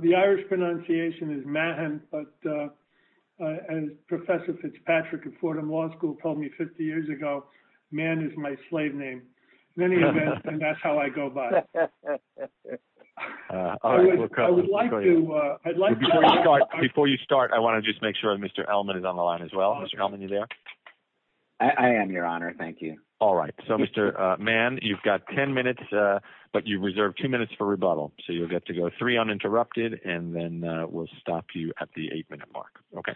The Irish pronunciation is Mahan, but as Professor Fitzpatrick at Fordham Law School told me 50 years ago, Mahan is my slave name. In any event, that's how I go by. Before you start, I want to just make sure Mr. Elman is on the line as well. Mr. Elman, are you there? I am, Your Honor. Thank you. All right. So, Mr. Mahan, you've got 10 minutes, but you've reserved 2 minutes for rebuttal. So, you'll get to go 3 uninterrupted, and then we'll stop you at the 8-minute mark. Okay.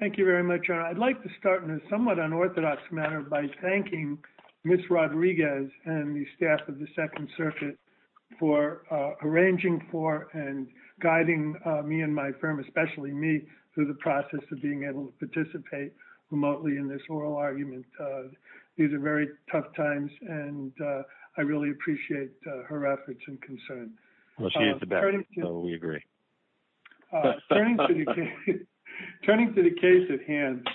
Thank you very much, Your Honor. I'd like to start in a somewhat unorthodox manner by thanking Ms. Rodriguez and the staff of the Second Circuit for arranging for and guiding me and my firm, especially me, through the process of being able to participate remotely in this oral argument. These are very tough times, and I really appreciate her efforts and concern. Well, she is the best, so we agree. Turning to the case at hand,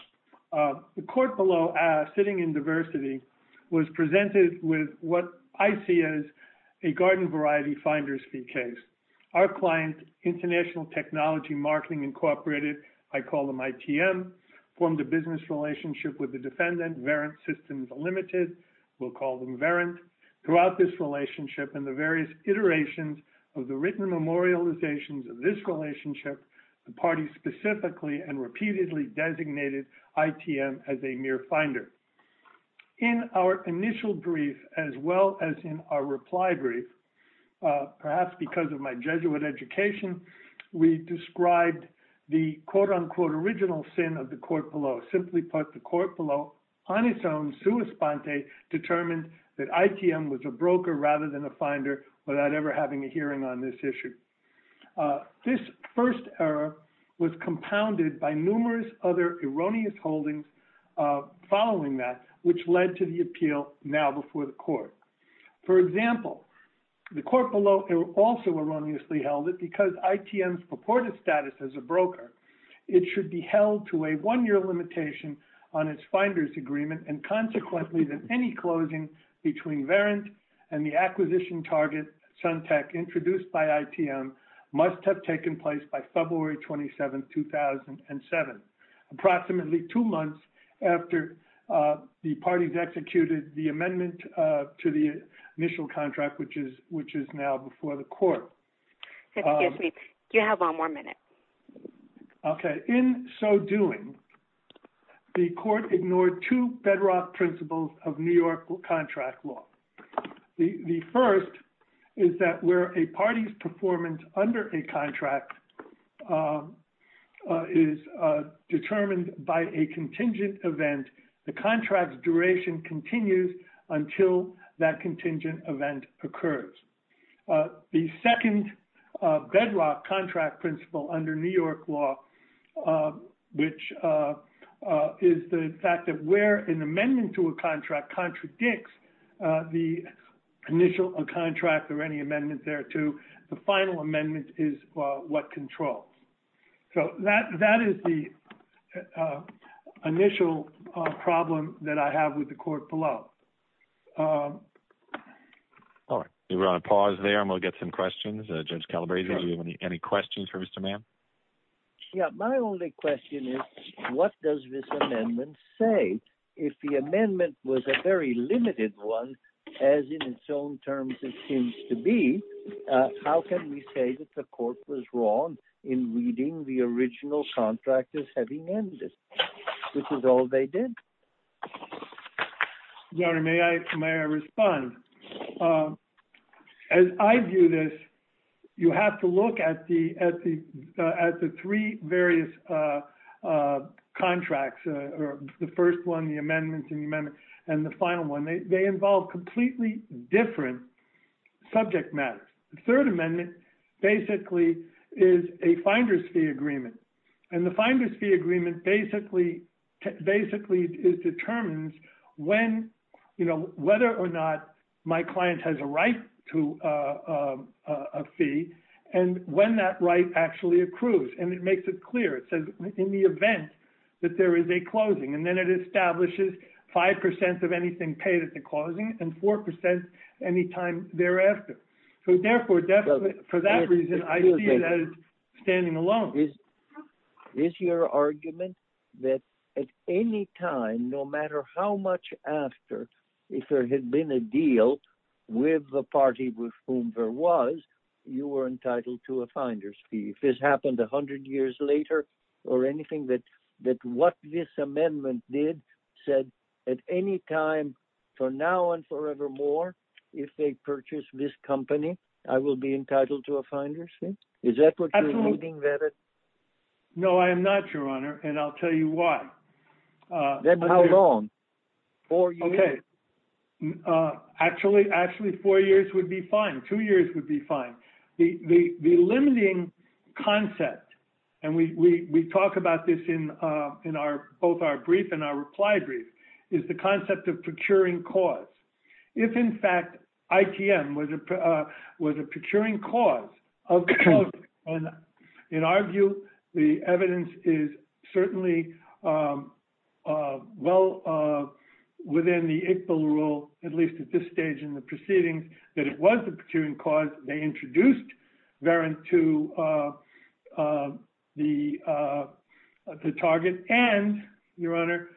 the court below, sitting in diversity, was presented with what I see as a garden-variety finder's fee case. Our client, International Technology Marketing Incorporated, I call them ITM, formed a business relationship with the defendant, Variant Systems Limited, we'll call them Variant. Throughout this relationship and the various iterations of the written memorializations of this relationship, the party specifically and repeatedly designated ITM as a mere finder. In our initial brief, as well as in our reply brief, perhaps because of my Jesuit education, we described the quote-unquote original sin of the court below, or simply put, the court below on its own sua sponte determined that ITM was a broker rather than a finder without ever having a hearing on this issue. This first error was compounded by numerous other erroneous holdings following that, which led to the appeal now before the court. For example, the court below also erroneously held that because ITM's purported status as a broker, it should be held to a one-year limitation on its finder's agreement, and consequently that any closing between Variant and the acquisition target, Suntec, introduced by ITM must have taken place by February 27, 2007, approximately two months after the parties executed the amendment to the initial contract, which is now before the court. Excuse me. You have one more minute. Okay. In so doing, the court ignored two bedrock principles of New York contract law. The first is that where a party's performance under a contract is determined by a contingent event, the contract's duration continues until that contingent event occurs. The second bedrock contract principle under New York law, which is the fact that where an amendment to a contract contradicts the initial contract or any amendment thereto, the final amendment is what controls. So that is the initial problem that I have with the court below. All right. We're on a pause there, and we'll get some questions. Judge Calabresi, do you have any questions for Mr. Mann? Yeah. My only question is, what does this amendment say? If the amendment was a very limited one, as in its own terms it seems to be, how can we say that the court was wrong in reading the original contract as having ended? Which is all they did. Your Honor, may I respond? As I view this, you have to look at the three various contracts, the first one, the amendment, and the final one. They involve completely different subject matters. The third amendment basically is a finder's fee agreement, and the finder's fee agreement basically determines whether or not my client has a right to a fee and when that right actually accrues, and it makes it clear. It says in the event that there is a closing, and then it establishes 5% of anything paid at the closing and 4% any time thereafter. So therefore, for that reason, I see it as standing alone. Is your argument that at any time, no matter how much after, if there had been a deal with the party with whom there was, you were entitled to a finder's fee? If this happened 100 years later or anything, that what this amendment did said at any time, for now and forevermore, if they purchase this company, I will be entitled to a finder's fee? Is that what you're looking at? No, I am not, Your Honor, and I'll tell you why. Then how long? Four years? Actually, four years would be fine. Two years would be fine. The limiting concept, and we talk about this in both our brief and our reply brief, is the concept of procuring cause. If, in fact, ITM was a procuring cause, and in our view, the evidence is certainly well within the ICBL rule, at least at this stage in the proceedings, that it was a procuring cause. They introduced Verint to the target, and, Your Honor,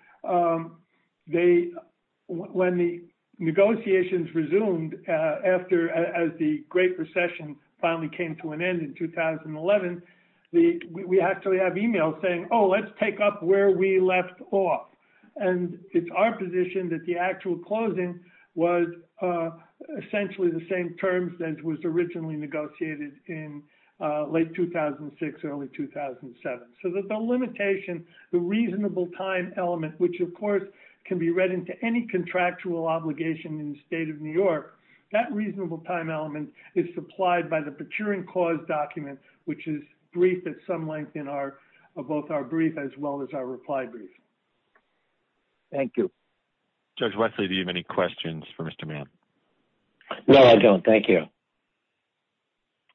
when the negotiations resumed after the Great Recession finally came to an end in 2011, we actually have e-mails saying, oh, let's take up where we left off. And it's our position that the actual closing was essentially the same terms that was originally negotiated in late 2006, early 2007. So the limitation, the reasonable time element, which of course can be read into any contractual obligation in the State of New York, that reasonable time element is supplied by the procuring cause document, which is briefed at some length in both our brief as well as our reply brief. Thank you. Judge Wesley, do you have any questions for Mr. Mann? No, I don't. Thank you.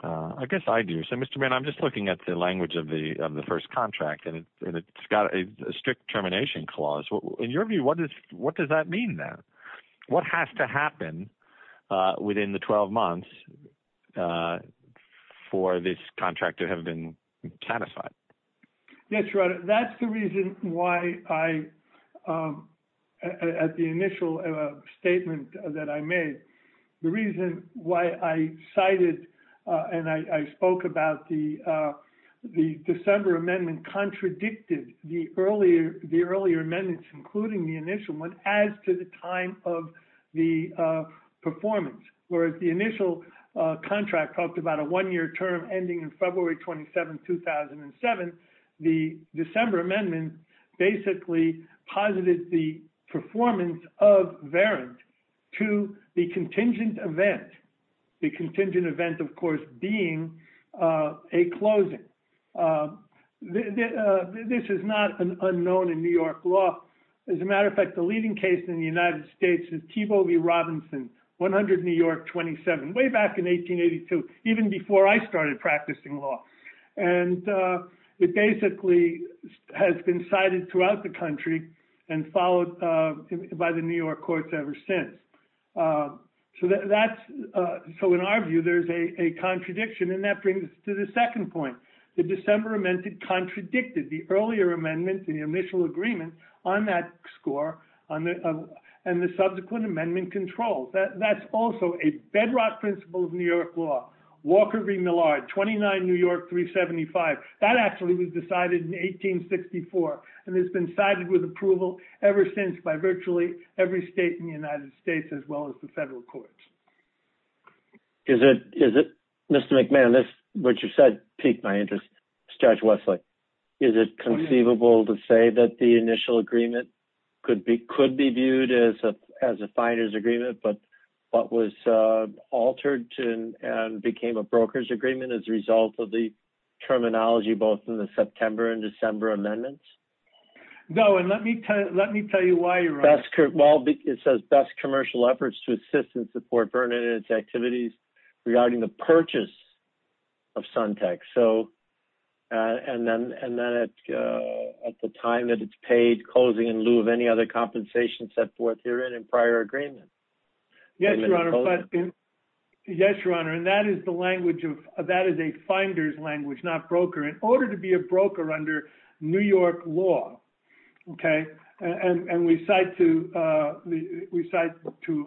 I guess I do. So, Mr. Mann, I'm just looking at the language of the first contract, and it's got a strict termination clause. In your view, what does that mean there? What has to happen within the 12 months for this contract to have been satisfied? Yes, Your Honor, that's the reason why I, at the initial statement that I made, the reason why I cited and I spoke about the December amendment contradicted the earlier amendments, including the initial one, as to the time of the performance. Whereas the initial contract talked about a one-year term ending in February 27, 2007, the December amendment basically posited the performance of Verrant to the contingent event, the contingent event, of course, being a closing. This is not an unknown in New York law. As a matter of fact, the leading case in the United States is Thiebaud v. Robinson, 100 New York 27, way back in 1882, even before I started practicing law. And it basically has been cited throughout the country and followed by the New York courts ever since. So in our view, there's a contradiction, and that brings us to the second point. The December amendment contradicted the earlier amendment, the initial agreement on that score, and the subsequent amendment controls. That's also a bedrock principle of New York law. Walker v. Millard, 29 New York 375, that actually was decided in 1864, and it's been cited with approval ever since by virtually every state in the United States, as well as the federal courts. Is it, Mr. McMahon, what you said piqued my interest. Judge Wesley, is it conceivable to say that the initial agreement could be viewed as a finder's agreement, but what was altered and became a broker's agreement as a result of the terminology, both in the September and December amendments? No, and let me tell you why, Ron. Well, it says best commercial efforts to assist and support Vernon and its activities regarding the purchase of Suntec. And then at the time that it's paid, closing in lieu of any other compensation set forth herein in prior agreement. Yes, Your Honor, and that is a finder's language, not broker. In order to be a broker under New York law, and we cite to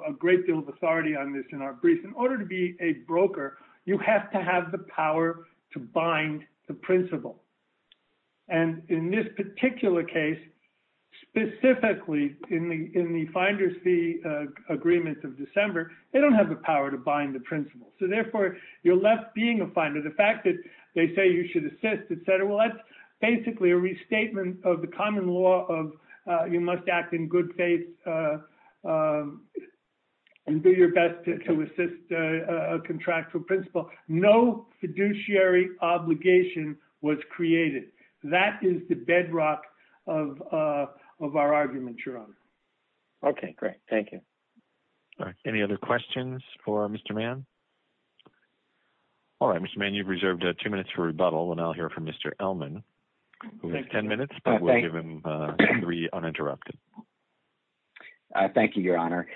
a great deal of authority on this in our brief, in order to be a broker, you have to have the power to bind the principle. And in this particular case, specifically in the finder's fee agreement of December, they don't have the power to bind the principle. So, therefore, you're left being a finder. The fact that they say you should assist, et cetera, well, that's basically a restatement of the common law of you must act in good faith and do your best to assist a contractual principle. No fiduciary obligation was created. That is the bedrock of our argument, Your Honor. Okay, great. Thank you. Any other questions for Mr. Mann? All right, Mr. Mann, you've reserved two minutes for rebuttal, and I'll hear from Mr. Elman, who has ten minutes, but we'll give him three uninterrupted. Thank you, Your Honor.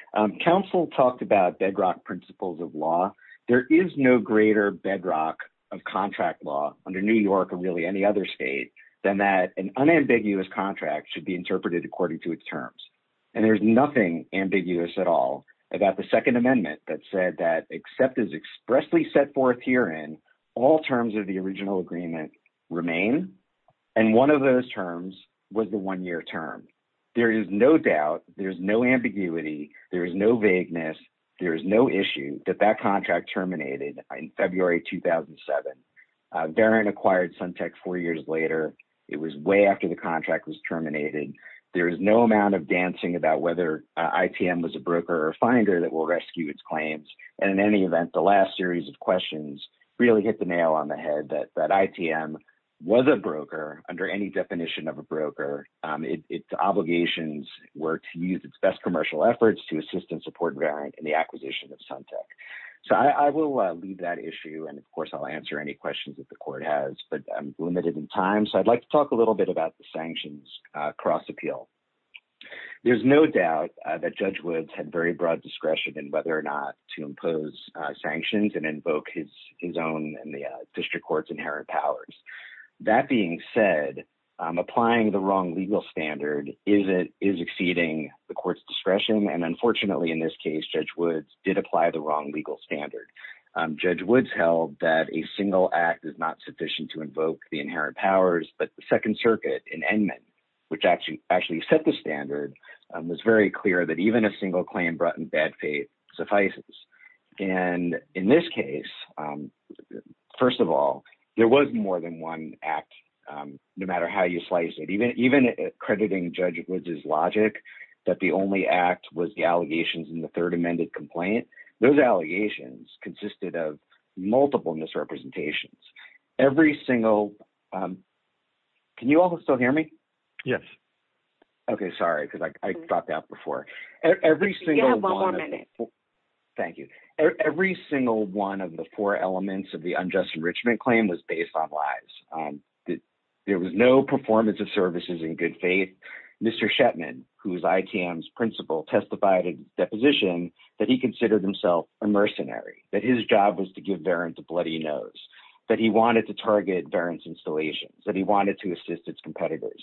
Counsel talked about bedrock principles of law. There is no greater bedrock of contract law under New York or really any other state than that an unambiguous contract should be interpreted according to its terms. And there's nothing ambiguous at all about the Second Amendment that said that except as expressly set forth herein, all terms of the original agreement remain. And one of those terms was the one-year term. There is no doubt, there is no ambiguity, there is no vagueness, there is no issue that that contract terminated in February 2007. VARIN acquired Suntec four years later. It was way after the contract was terminated. There is no amount of dancing about whether ITM was a broker or finder that will rescue its claims. And in any event, the last series of questions really hit the nail on the head that ITM was a broker under any definition of a broker. Its obligations were to use its best commercial efforts to assist and support VARIN in the acquisition of Suntec. So I will leave that issue, and of course I'll answer any questions that the court has, but I'm limited in time. So I'd like to talk a little bit about the sanctions cross-appeal. There's no doubt that Judge Woods had very broad discretion in whether or not to impose sanctions and invoke his own and the district court's inherent powers. That being said, applying the wrong legal standard is exceeding the court's discretion, and unfortunately in this case, Judge Woods did apply the wrong legal standard. Judge Woods held that a single act is not sufficient to invoke the inherent powers, but the Second Circuit in Edmund, which actually set the standard, was very clear that even a single claim brought in bad faith suffices. And in this case, first of all, there was more than one act, no matter how you slice it. Even crediting Judge Woods' logic that the only act was the allegations in the third amended complaint, those allegations consisted of multiple misrepresentations. Every single – can you all still hear me? Yes. Okay, sorry, because I dropped out before. You have one more minute. Thank you. Every single one of the four elements of the unjust enrichment claim was based on lies. There was no performance of services in good faith. Mr. Shetman, who is ITM's principal, testified in deposition that he considered himself a mercenary, that his job was to give Verint a bloody nose, that he wanted to target Verint's installations, that he wanted to assist its competitors.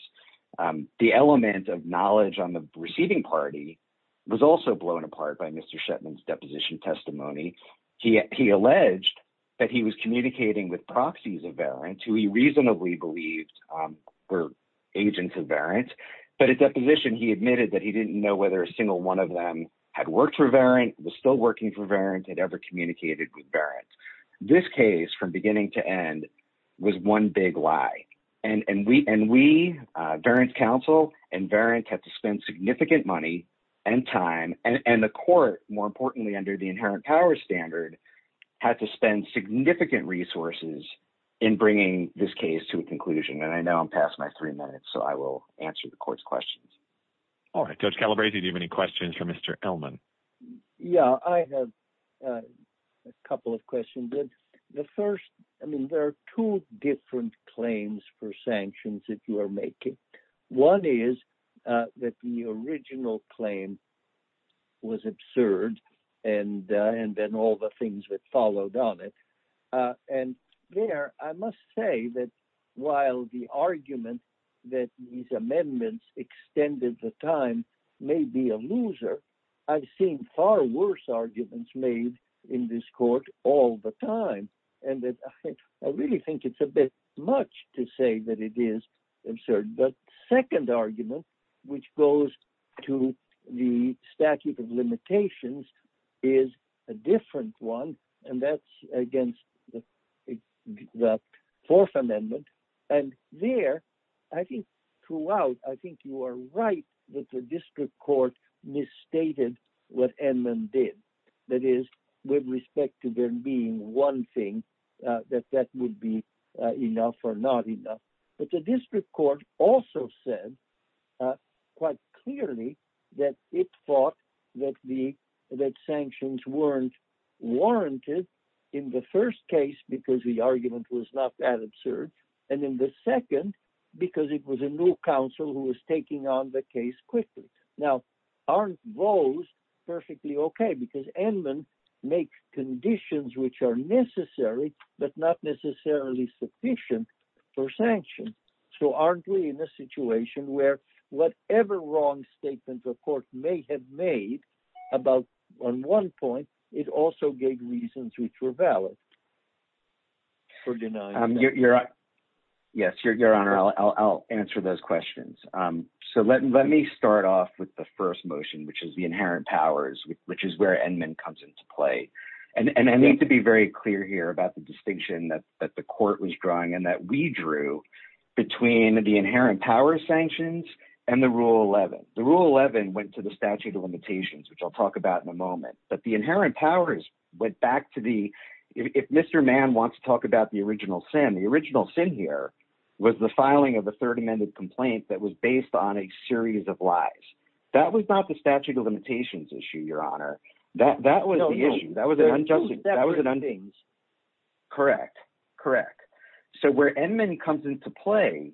The element of knowledge on the receiving party was also blown apart by Mr. Shetman's deposition testimony. He alleged that he was communicating with proxies of Verint who he reasonably believed were agents of Verint. But at deposition, he admitted that he didn't know whether a single one of them had worked for Verint, was still working for Verint, had ever communicated with Verint. This case, from beginning to end, was one big lie. And we, Verint's counsel and Verint, had to spend significant money and time, and the court, more importantly, under the inherent power standard, had to spend significant resources in bringing this case to a conclusion. And I know I'm past my three minutes, so I will answer the court's questions. All right, Judge Calabresi, do you have any questions for Mr. Ellman? Yeah, I have a couple of questions. The first, I mean, there are two different claims for sanctions that you are making. One is that the original claim was absurd, and then all the things that followed on it. And there, I must say that while the argument that these amendments extended the time may be a loser, I've seen far worse arguments made in this court all the time, and I really think it's a bit much to say that it is absurd. The second argument, which goes to the statute of limitations, is a different one, and that's against the Fourth Amendment. And there, I think throughout, I think you are right that the district court misstated what Ellman did. That is, with respect to there being one thing, that that would be enough or not enough. But the district court also said quite clearly that it thought that sanctions weren't warranted in the first case because the argument was not that absurd, and in the second because it was a new counsel who was taking on the case quickly. Now, aren't those perfectly okay? Because Ellman makes conditions which are necessary but not necessarily sufficient for sanctions. So aren't we in a situation where whatever wrong statements a court may have made about one point, it also gave reasons which were valid for denying sanctions? Yes, Your Honor, I'll answer those questions. So let me start off with the first motion, which is the inherent powers, which is where Ellman comes into play. And I need to be very clear here about the distinction that the court was drawing and that we drew between the inherent power sanctions and the Rule 11. The Rule 11 went to the statute of limitations, which I'll talk about in a moment. But the inherent powers went back to the – if Mr. Mann wants to talk about the original sin, the original sin here was the filing of a third amended complaint that was based on a series of lies. That was not the statute of limitations issue, Your Honor. That was the issue. That was an unjust – that was an – Correct. Correct. So where Ellman comes into play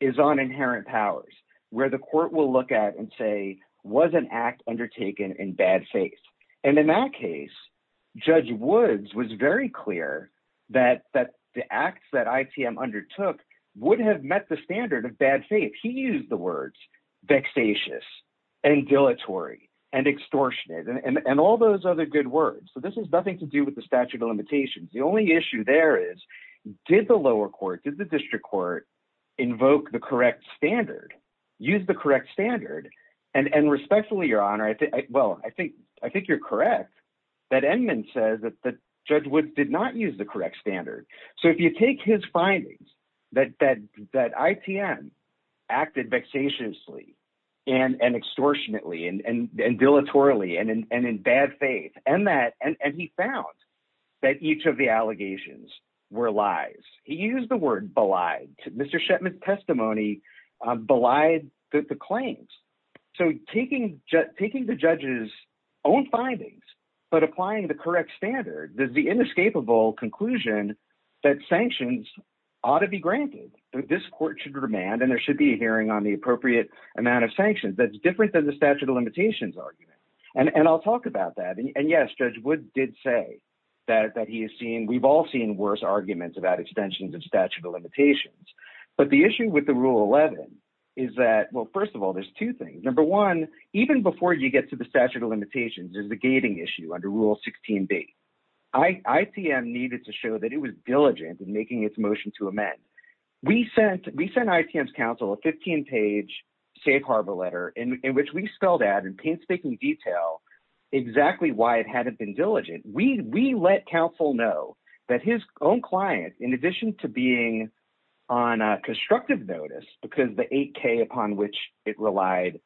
is on inherent powers where the court will look at and say, was an act undertaken in bad faith? And in that case, Judge Woods was very clear that the acts that ITM undertook would have met the standard of bad faith. He used the words vexatious and dilatory and extortionate and all those other good words. So this has nothing to do with the statute of limitations. The only issue there is did the lower court, did the district court invoke the correct standard, use the correct standard? And respectfully, Your Honor, well, I think you're correct that Ellman says that Judge Woods did not use the correct standard. So if you take his findings that ITM acted vexatiously and extortionately and dilatorily and in bad faith and that – and he found that each of the allegations were lies. He used the word belied. Mr. Shetman's testimony belied the claims. So taking the judge's own findings but applying the correct standard is the inescapable conclusion that sanctions ought to be granted. This court should demand and there should be a hearing on the appropriate amount of sanctions. That's different than the statute of limitations argument, and I'll talk about that. And yes, Judge Woods did say that he has seen – we've all seen worse arguments about extensions of statute of limitations. But the issue with the Rule 11 is that – well, first of all, there's two things. Number one, even before you get to the statute of limitations, there's the gating issue under Rule 16b. ITM needed to show that it was diligent in making its motion to amend. We sent ITM's counsel a 15-page safe harbor letter in which we spelled out in painstaking detail exactly why it hadn't been diligent. We let counsel know that his own client, in addition to being on a constructive notice because the 8K upon which it relied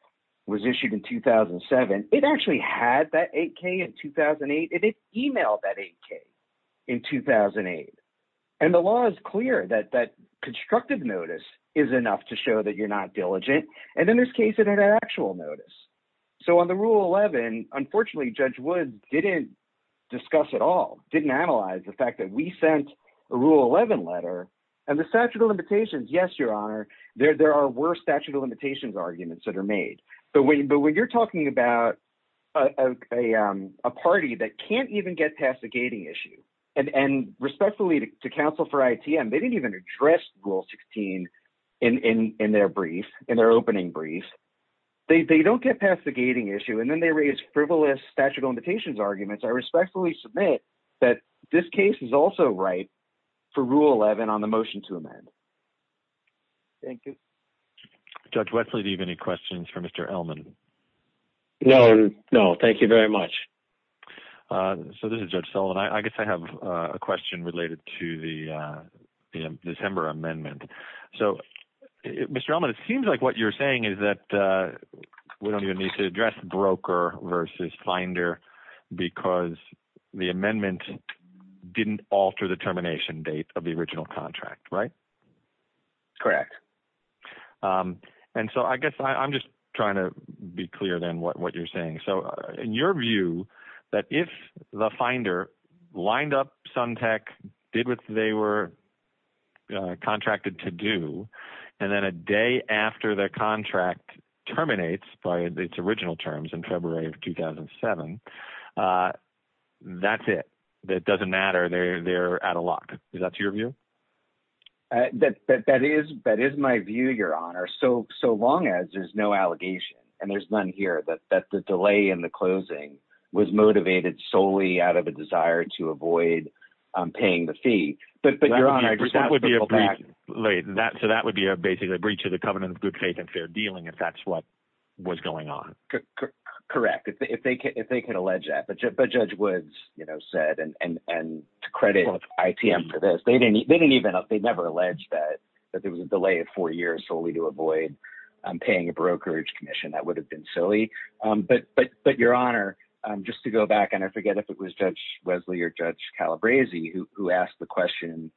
was issued in 2007, it actually had that 8K in 2008. It emailed that 8K in 2008. And the law is clear that that constructive notice is enough to show that you're not diligent, and in this case, it had an actual notice. So on the Rule 11, unfortunately, Judge Woods didn't discuss at all, didn't analyze the fact that we sent a Rule 11 letter. And the statute of limitations, yes, Your Honor, there were statute of limitations arguments that are made. But when you're talking about a party that can't even get past the gating issue, and respectfully to counsel for ITM, they didn't even address Rule 16 in their brief, in their opening brief. They don't get past the gating issue, and then they raise frivolous statute of limitations arguments. I respectfully submit that this case is also right for Rule 11 on the motion to amend. Thank you. Judge Wesley, do you have any questions for Mr. Ellman? No, no. Thank you very much. So this is Judge Sullivan. I guess I have a question related to the December amendment. So, Mr. Ellman, it seems like what you're saying is that we don't even need to address broker versus finder because the amendment didn't alter the termination date of the original contract, right? Correct. And so I guess I'm just trying to be clear then what you're saying. So in your view, that if the finder lined up Suntech, did what they were contracted to do, and then a day after the contract terminates by its original terms in February of 2007, that's it. It doesn't matter. They're out of luck. Is that your view? That is my view, Your Honor, so long as there's no allegation, and there's none here, that the delay in the closing was motivated solely out of a desire to avoid paying the fee. But, Your Honor, I just want to pull back. So that would be basically a breach of the covenant of good faith and fair dealing if that's what was going on. Correct, if they could allege that. But Judge Woods said, and to credit ITM for this, they never alleged that there was a delay of four years solely to avoid paying a brokerage commission. That would have been silly. But, Your Honor, just to go back, and I forget if it was Judge Wesley or Judge Calabresi who asked the question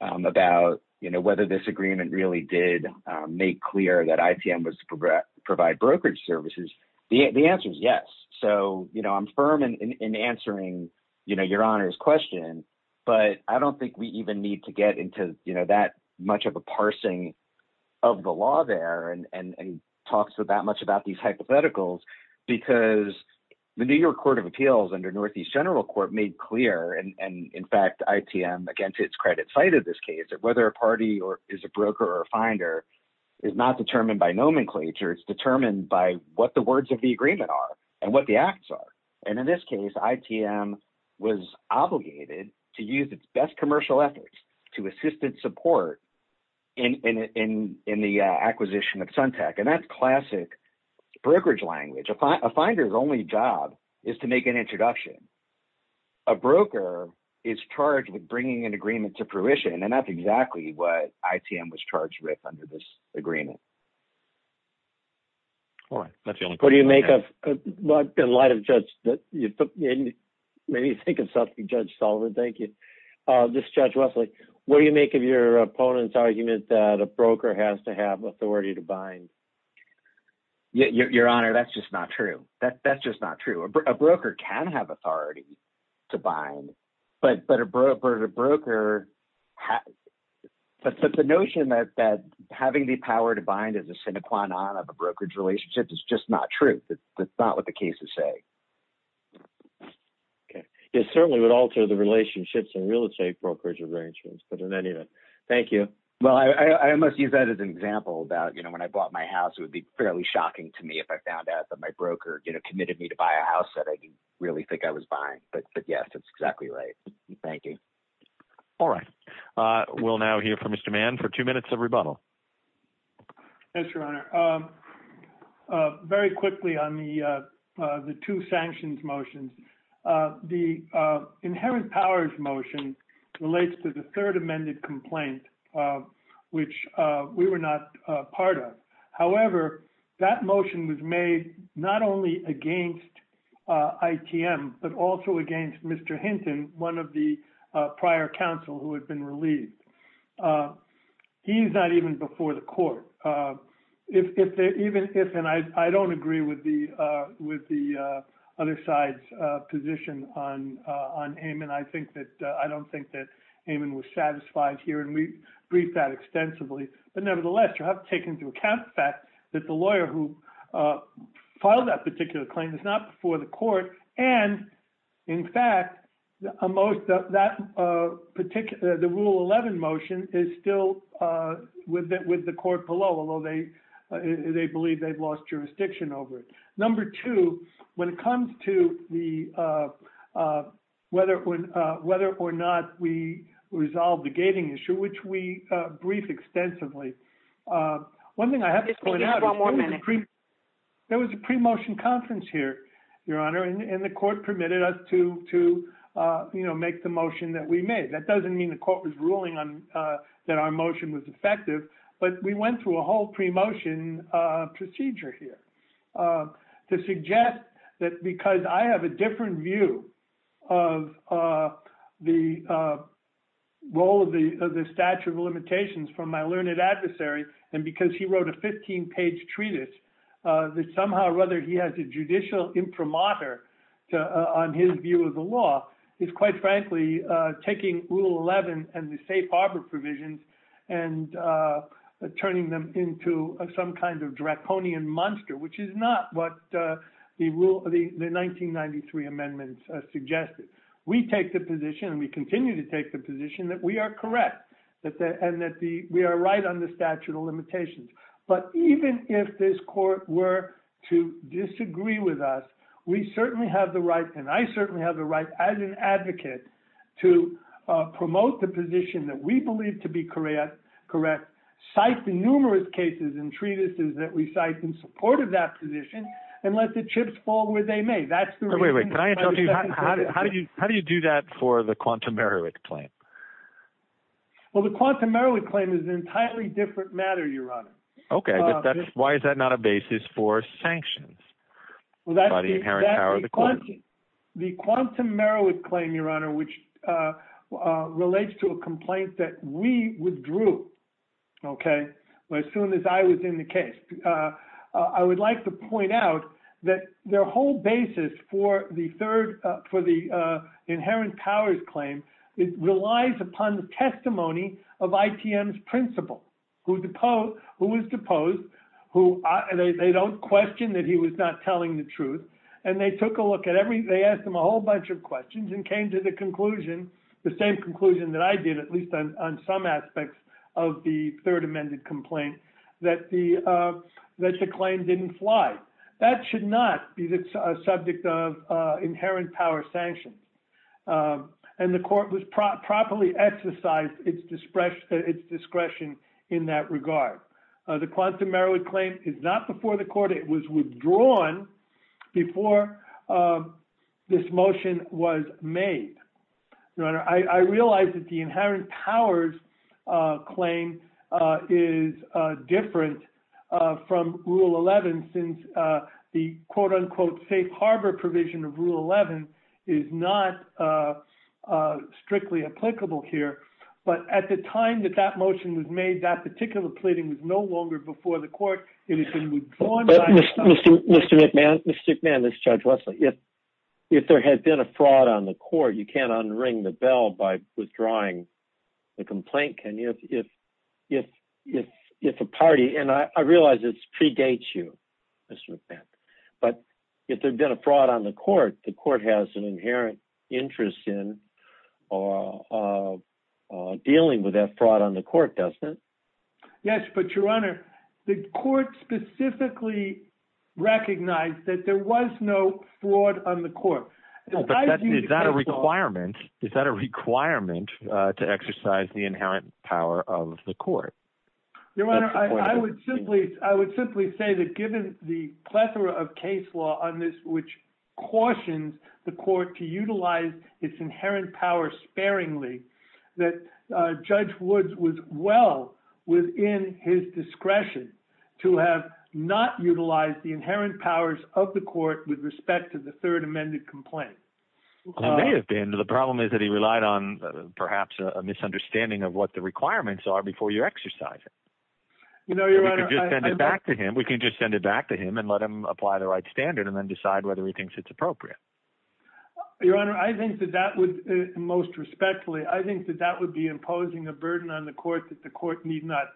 about whether this agreement really did make clear that ITM was to provide brokerage services. The answer is yes. So I'm firm in answering Your Honor's question, but I don't think we even need to get into that much of a parsing of the law there and talk so that much about these hypotheticals because the New York Court of Appeals under Northeast General Court made clear, and in fact, ITM, again, to its credit, cited this case that whether a party is a broker or a finder is not determined by nomenclature. It's determined by what the words of the agreement are and what the acts are. And in this case, ITM was obligated to use its best commercial efforts to assist and support in the acquisition of Suntec, and that's classic brokerage language. A finder's only job is to make an introduction. A broker is charged with bringing an agreement to fruition, and that's exactly what ITM was charged with under this agreement. All right. What do you make of – in light of Judge – maybe think of something, Judge Sullivan. Thank you. This is Judge Wesley. What do you make of your opponent's argument that a broker has to have authority to bind? Your Honor, that's just not true. That's just not true. A broker can have authority to bind, but a broker – the notion that having the power to bind is a sine qua non of a brokerage relationship is just not true. That's not what the cases say. Okay. It certainly would alter the relationships in real estate brokerage arrangements, but in any event, thank you. Well, I must use that as an example about when I bought my house, it would be fairly shocking to me if I found out that my broker committed me to buy a house that I didn't really think I was buying. But, yes, that's exactly right. Thank you. All right. We'll now hear from Mr. Mann for two minutes of rebuttal. Yes, Your Honor. Very quickly on the two sanctions motions, the inherent powers motion relates to the third amended complaint, which we were not part of. However, that motion was made not only against ITM, but also against Mr. Hinton, one of the prior counsel who had been released. He's not even before the court. And I don't agree with the other side's position on Amon. I don't think that Amon was satisfied here, and we briefed that extensively. But, nevertheless, you have to take into account the fact that the lawyer who filed that particular claim is not before the court. And, in fact, the rule 11 motion is still with the court below, although they believe they've lost jurisdiction over it. Number two, when it comes to whether or not we resolve the gating issue, which we briefed extensively, one thing I have to point out is there was a pre-motion conference here, Your Honor. And the court permitted us to make the motion that we made. That doesn't mean the court was ruling that our motion was effective, but we went through a whole pre-motion procedure here to suggest that because I have a different view of the role of the statute of limitations from my learned adversary, and because he wrote a 15-page treatise, that somehow or other he has a judicial imprimatur on his view of the law is, quite frankly, taking Rule 11 and the safe harbor provisions and turning them into some kind of draconian monster, which is not what the 1993 amendments suggested. We take the position, and we continue to take the position, that we are correct and that we are right on the statute of limitations. But even if this court were to disagree with us, we certainly have the right, and I certainly have the right, as an advocate, to promote the position that we believe to be correct, cite the numerous cases and treatises that we cite in support of that position, and let the chips fall where they may. How do you do that for the Quantum Merowith claim? Well, the Quantum Merowith claim is an entirely different matter, Your Honor. Okay, but why is that not a basis for sanctions by the inherent power of the court? The Quantum Merowith claim, Your Honor, which relates to a complaint that we withdrew, okay, as soon as I was in the case. I would like to point out that their whole basis for the inherent powers claim relies upon the testimony of ITM's principal, who was deposed. They don't question that he was not telling the truth. And they took a look at every, they asked him a whole bunch of questions and came to the conclusion, the same conclusion that I did, at least on some aspects of the third amended complaint, that the claim didn't fly. That should not be the subject of inherent power sanctions. And the court was properly exercised its discretion in that regard. The Quantum Merowith claim is not before the court. It was withdrawn before this motion was made. Your Honor, I realize that the inherent powers claim is different from Rule 11, since the quote-unquote safe harbor provision of Rule 11 is not strictly applicable here. But at the time that that motion was made, that particular pleading was no longer before the court. It has been withdrawn. Mr. McMahon, Mr. McMahon, this is Judge Wesley. If there had been a fraud on the court, you can't unring the bell by withdrawing the complaint, can you, if a party, and I realize this predates you, Mr. McMahon. But if there had been a fraud on the court, the court has an inherent interest in dealing with that fraud on the court, doesn't it? Yes, but, Your Honor, the court specifically recognized that there was no fraud on the court. Is that a requirement? Is that a requirement to exercise the inherent power of the court? Your Honor, I would simply say that given the plethora of case law on this which cautions the court to utilize its inherent power sparingly, that Judge Woods was well within his discretion to have not utilized the inherent powers of the court with respect to the third amended complaint. It may have been. The problem is that he relied on perhaps a misunderstanding of what the requirements are before you exercise it. We can just send it back to him and let him apply the right standard and then decide whether he thinks it's appropriate. Your Honor, I think that that would, most respectfully, I think that that would be imposing a burden on the court that the court need not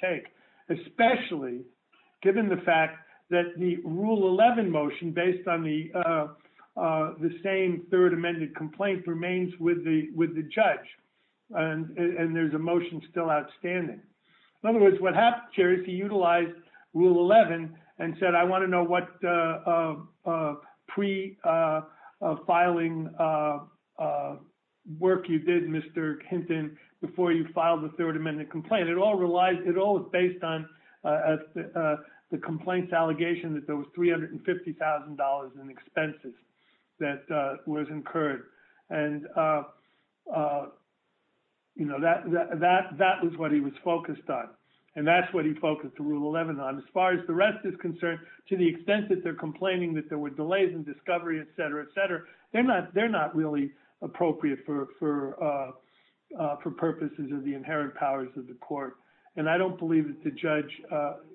take, especially given the fact that the Rule 11 motion based on the same third amended complaint remains with the judge and there's a motion still outstanding. In other words, what happened, Chair, is he utilized Rule 11 and said, I want to know what pre-filing work you did, Mr. Hinton, before you filed the third amended complaint. And it all relies, it all is based on the complaint's allegation that there was $350,000 in expenses that was incurred. And, you know, that was what he was focused on. And that's what he focused the Rule 11 on. As far as the rest is concerned, to the extent that they're complaining that there were delays in discovery, etc., etc., they're not really appropriate for purposes of the inherent powers of the court. And I don't believe that the judge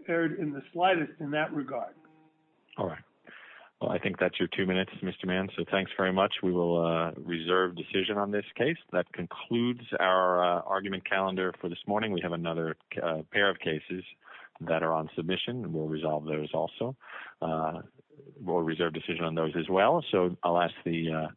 erred in the slightest in that regard. All right. Well, I think that's your two minutes, Mr. Mann. So thanks very much. We will reserve decision on this case. That concludes our argument calendar for this morning. We have another pair of cases that are on submission and we'll resolve those also. We'll reserve decision on those as well. So I'll ask the...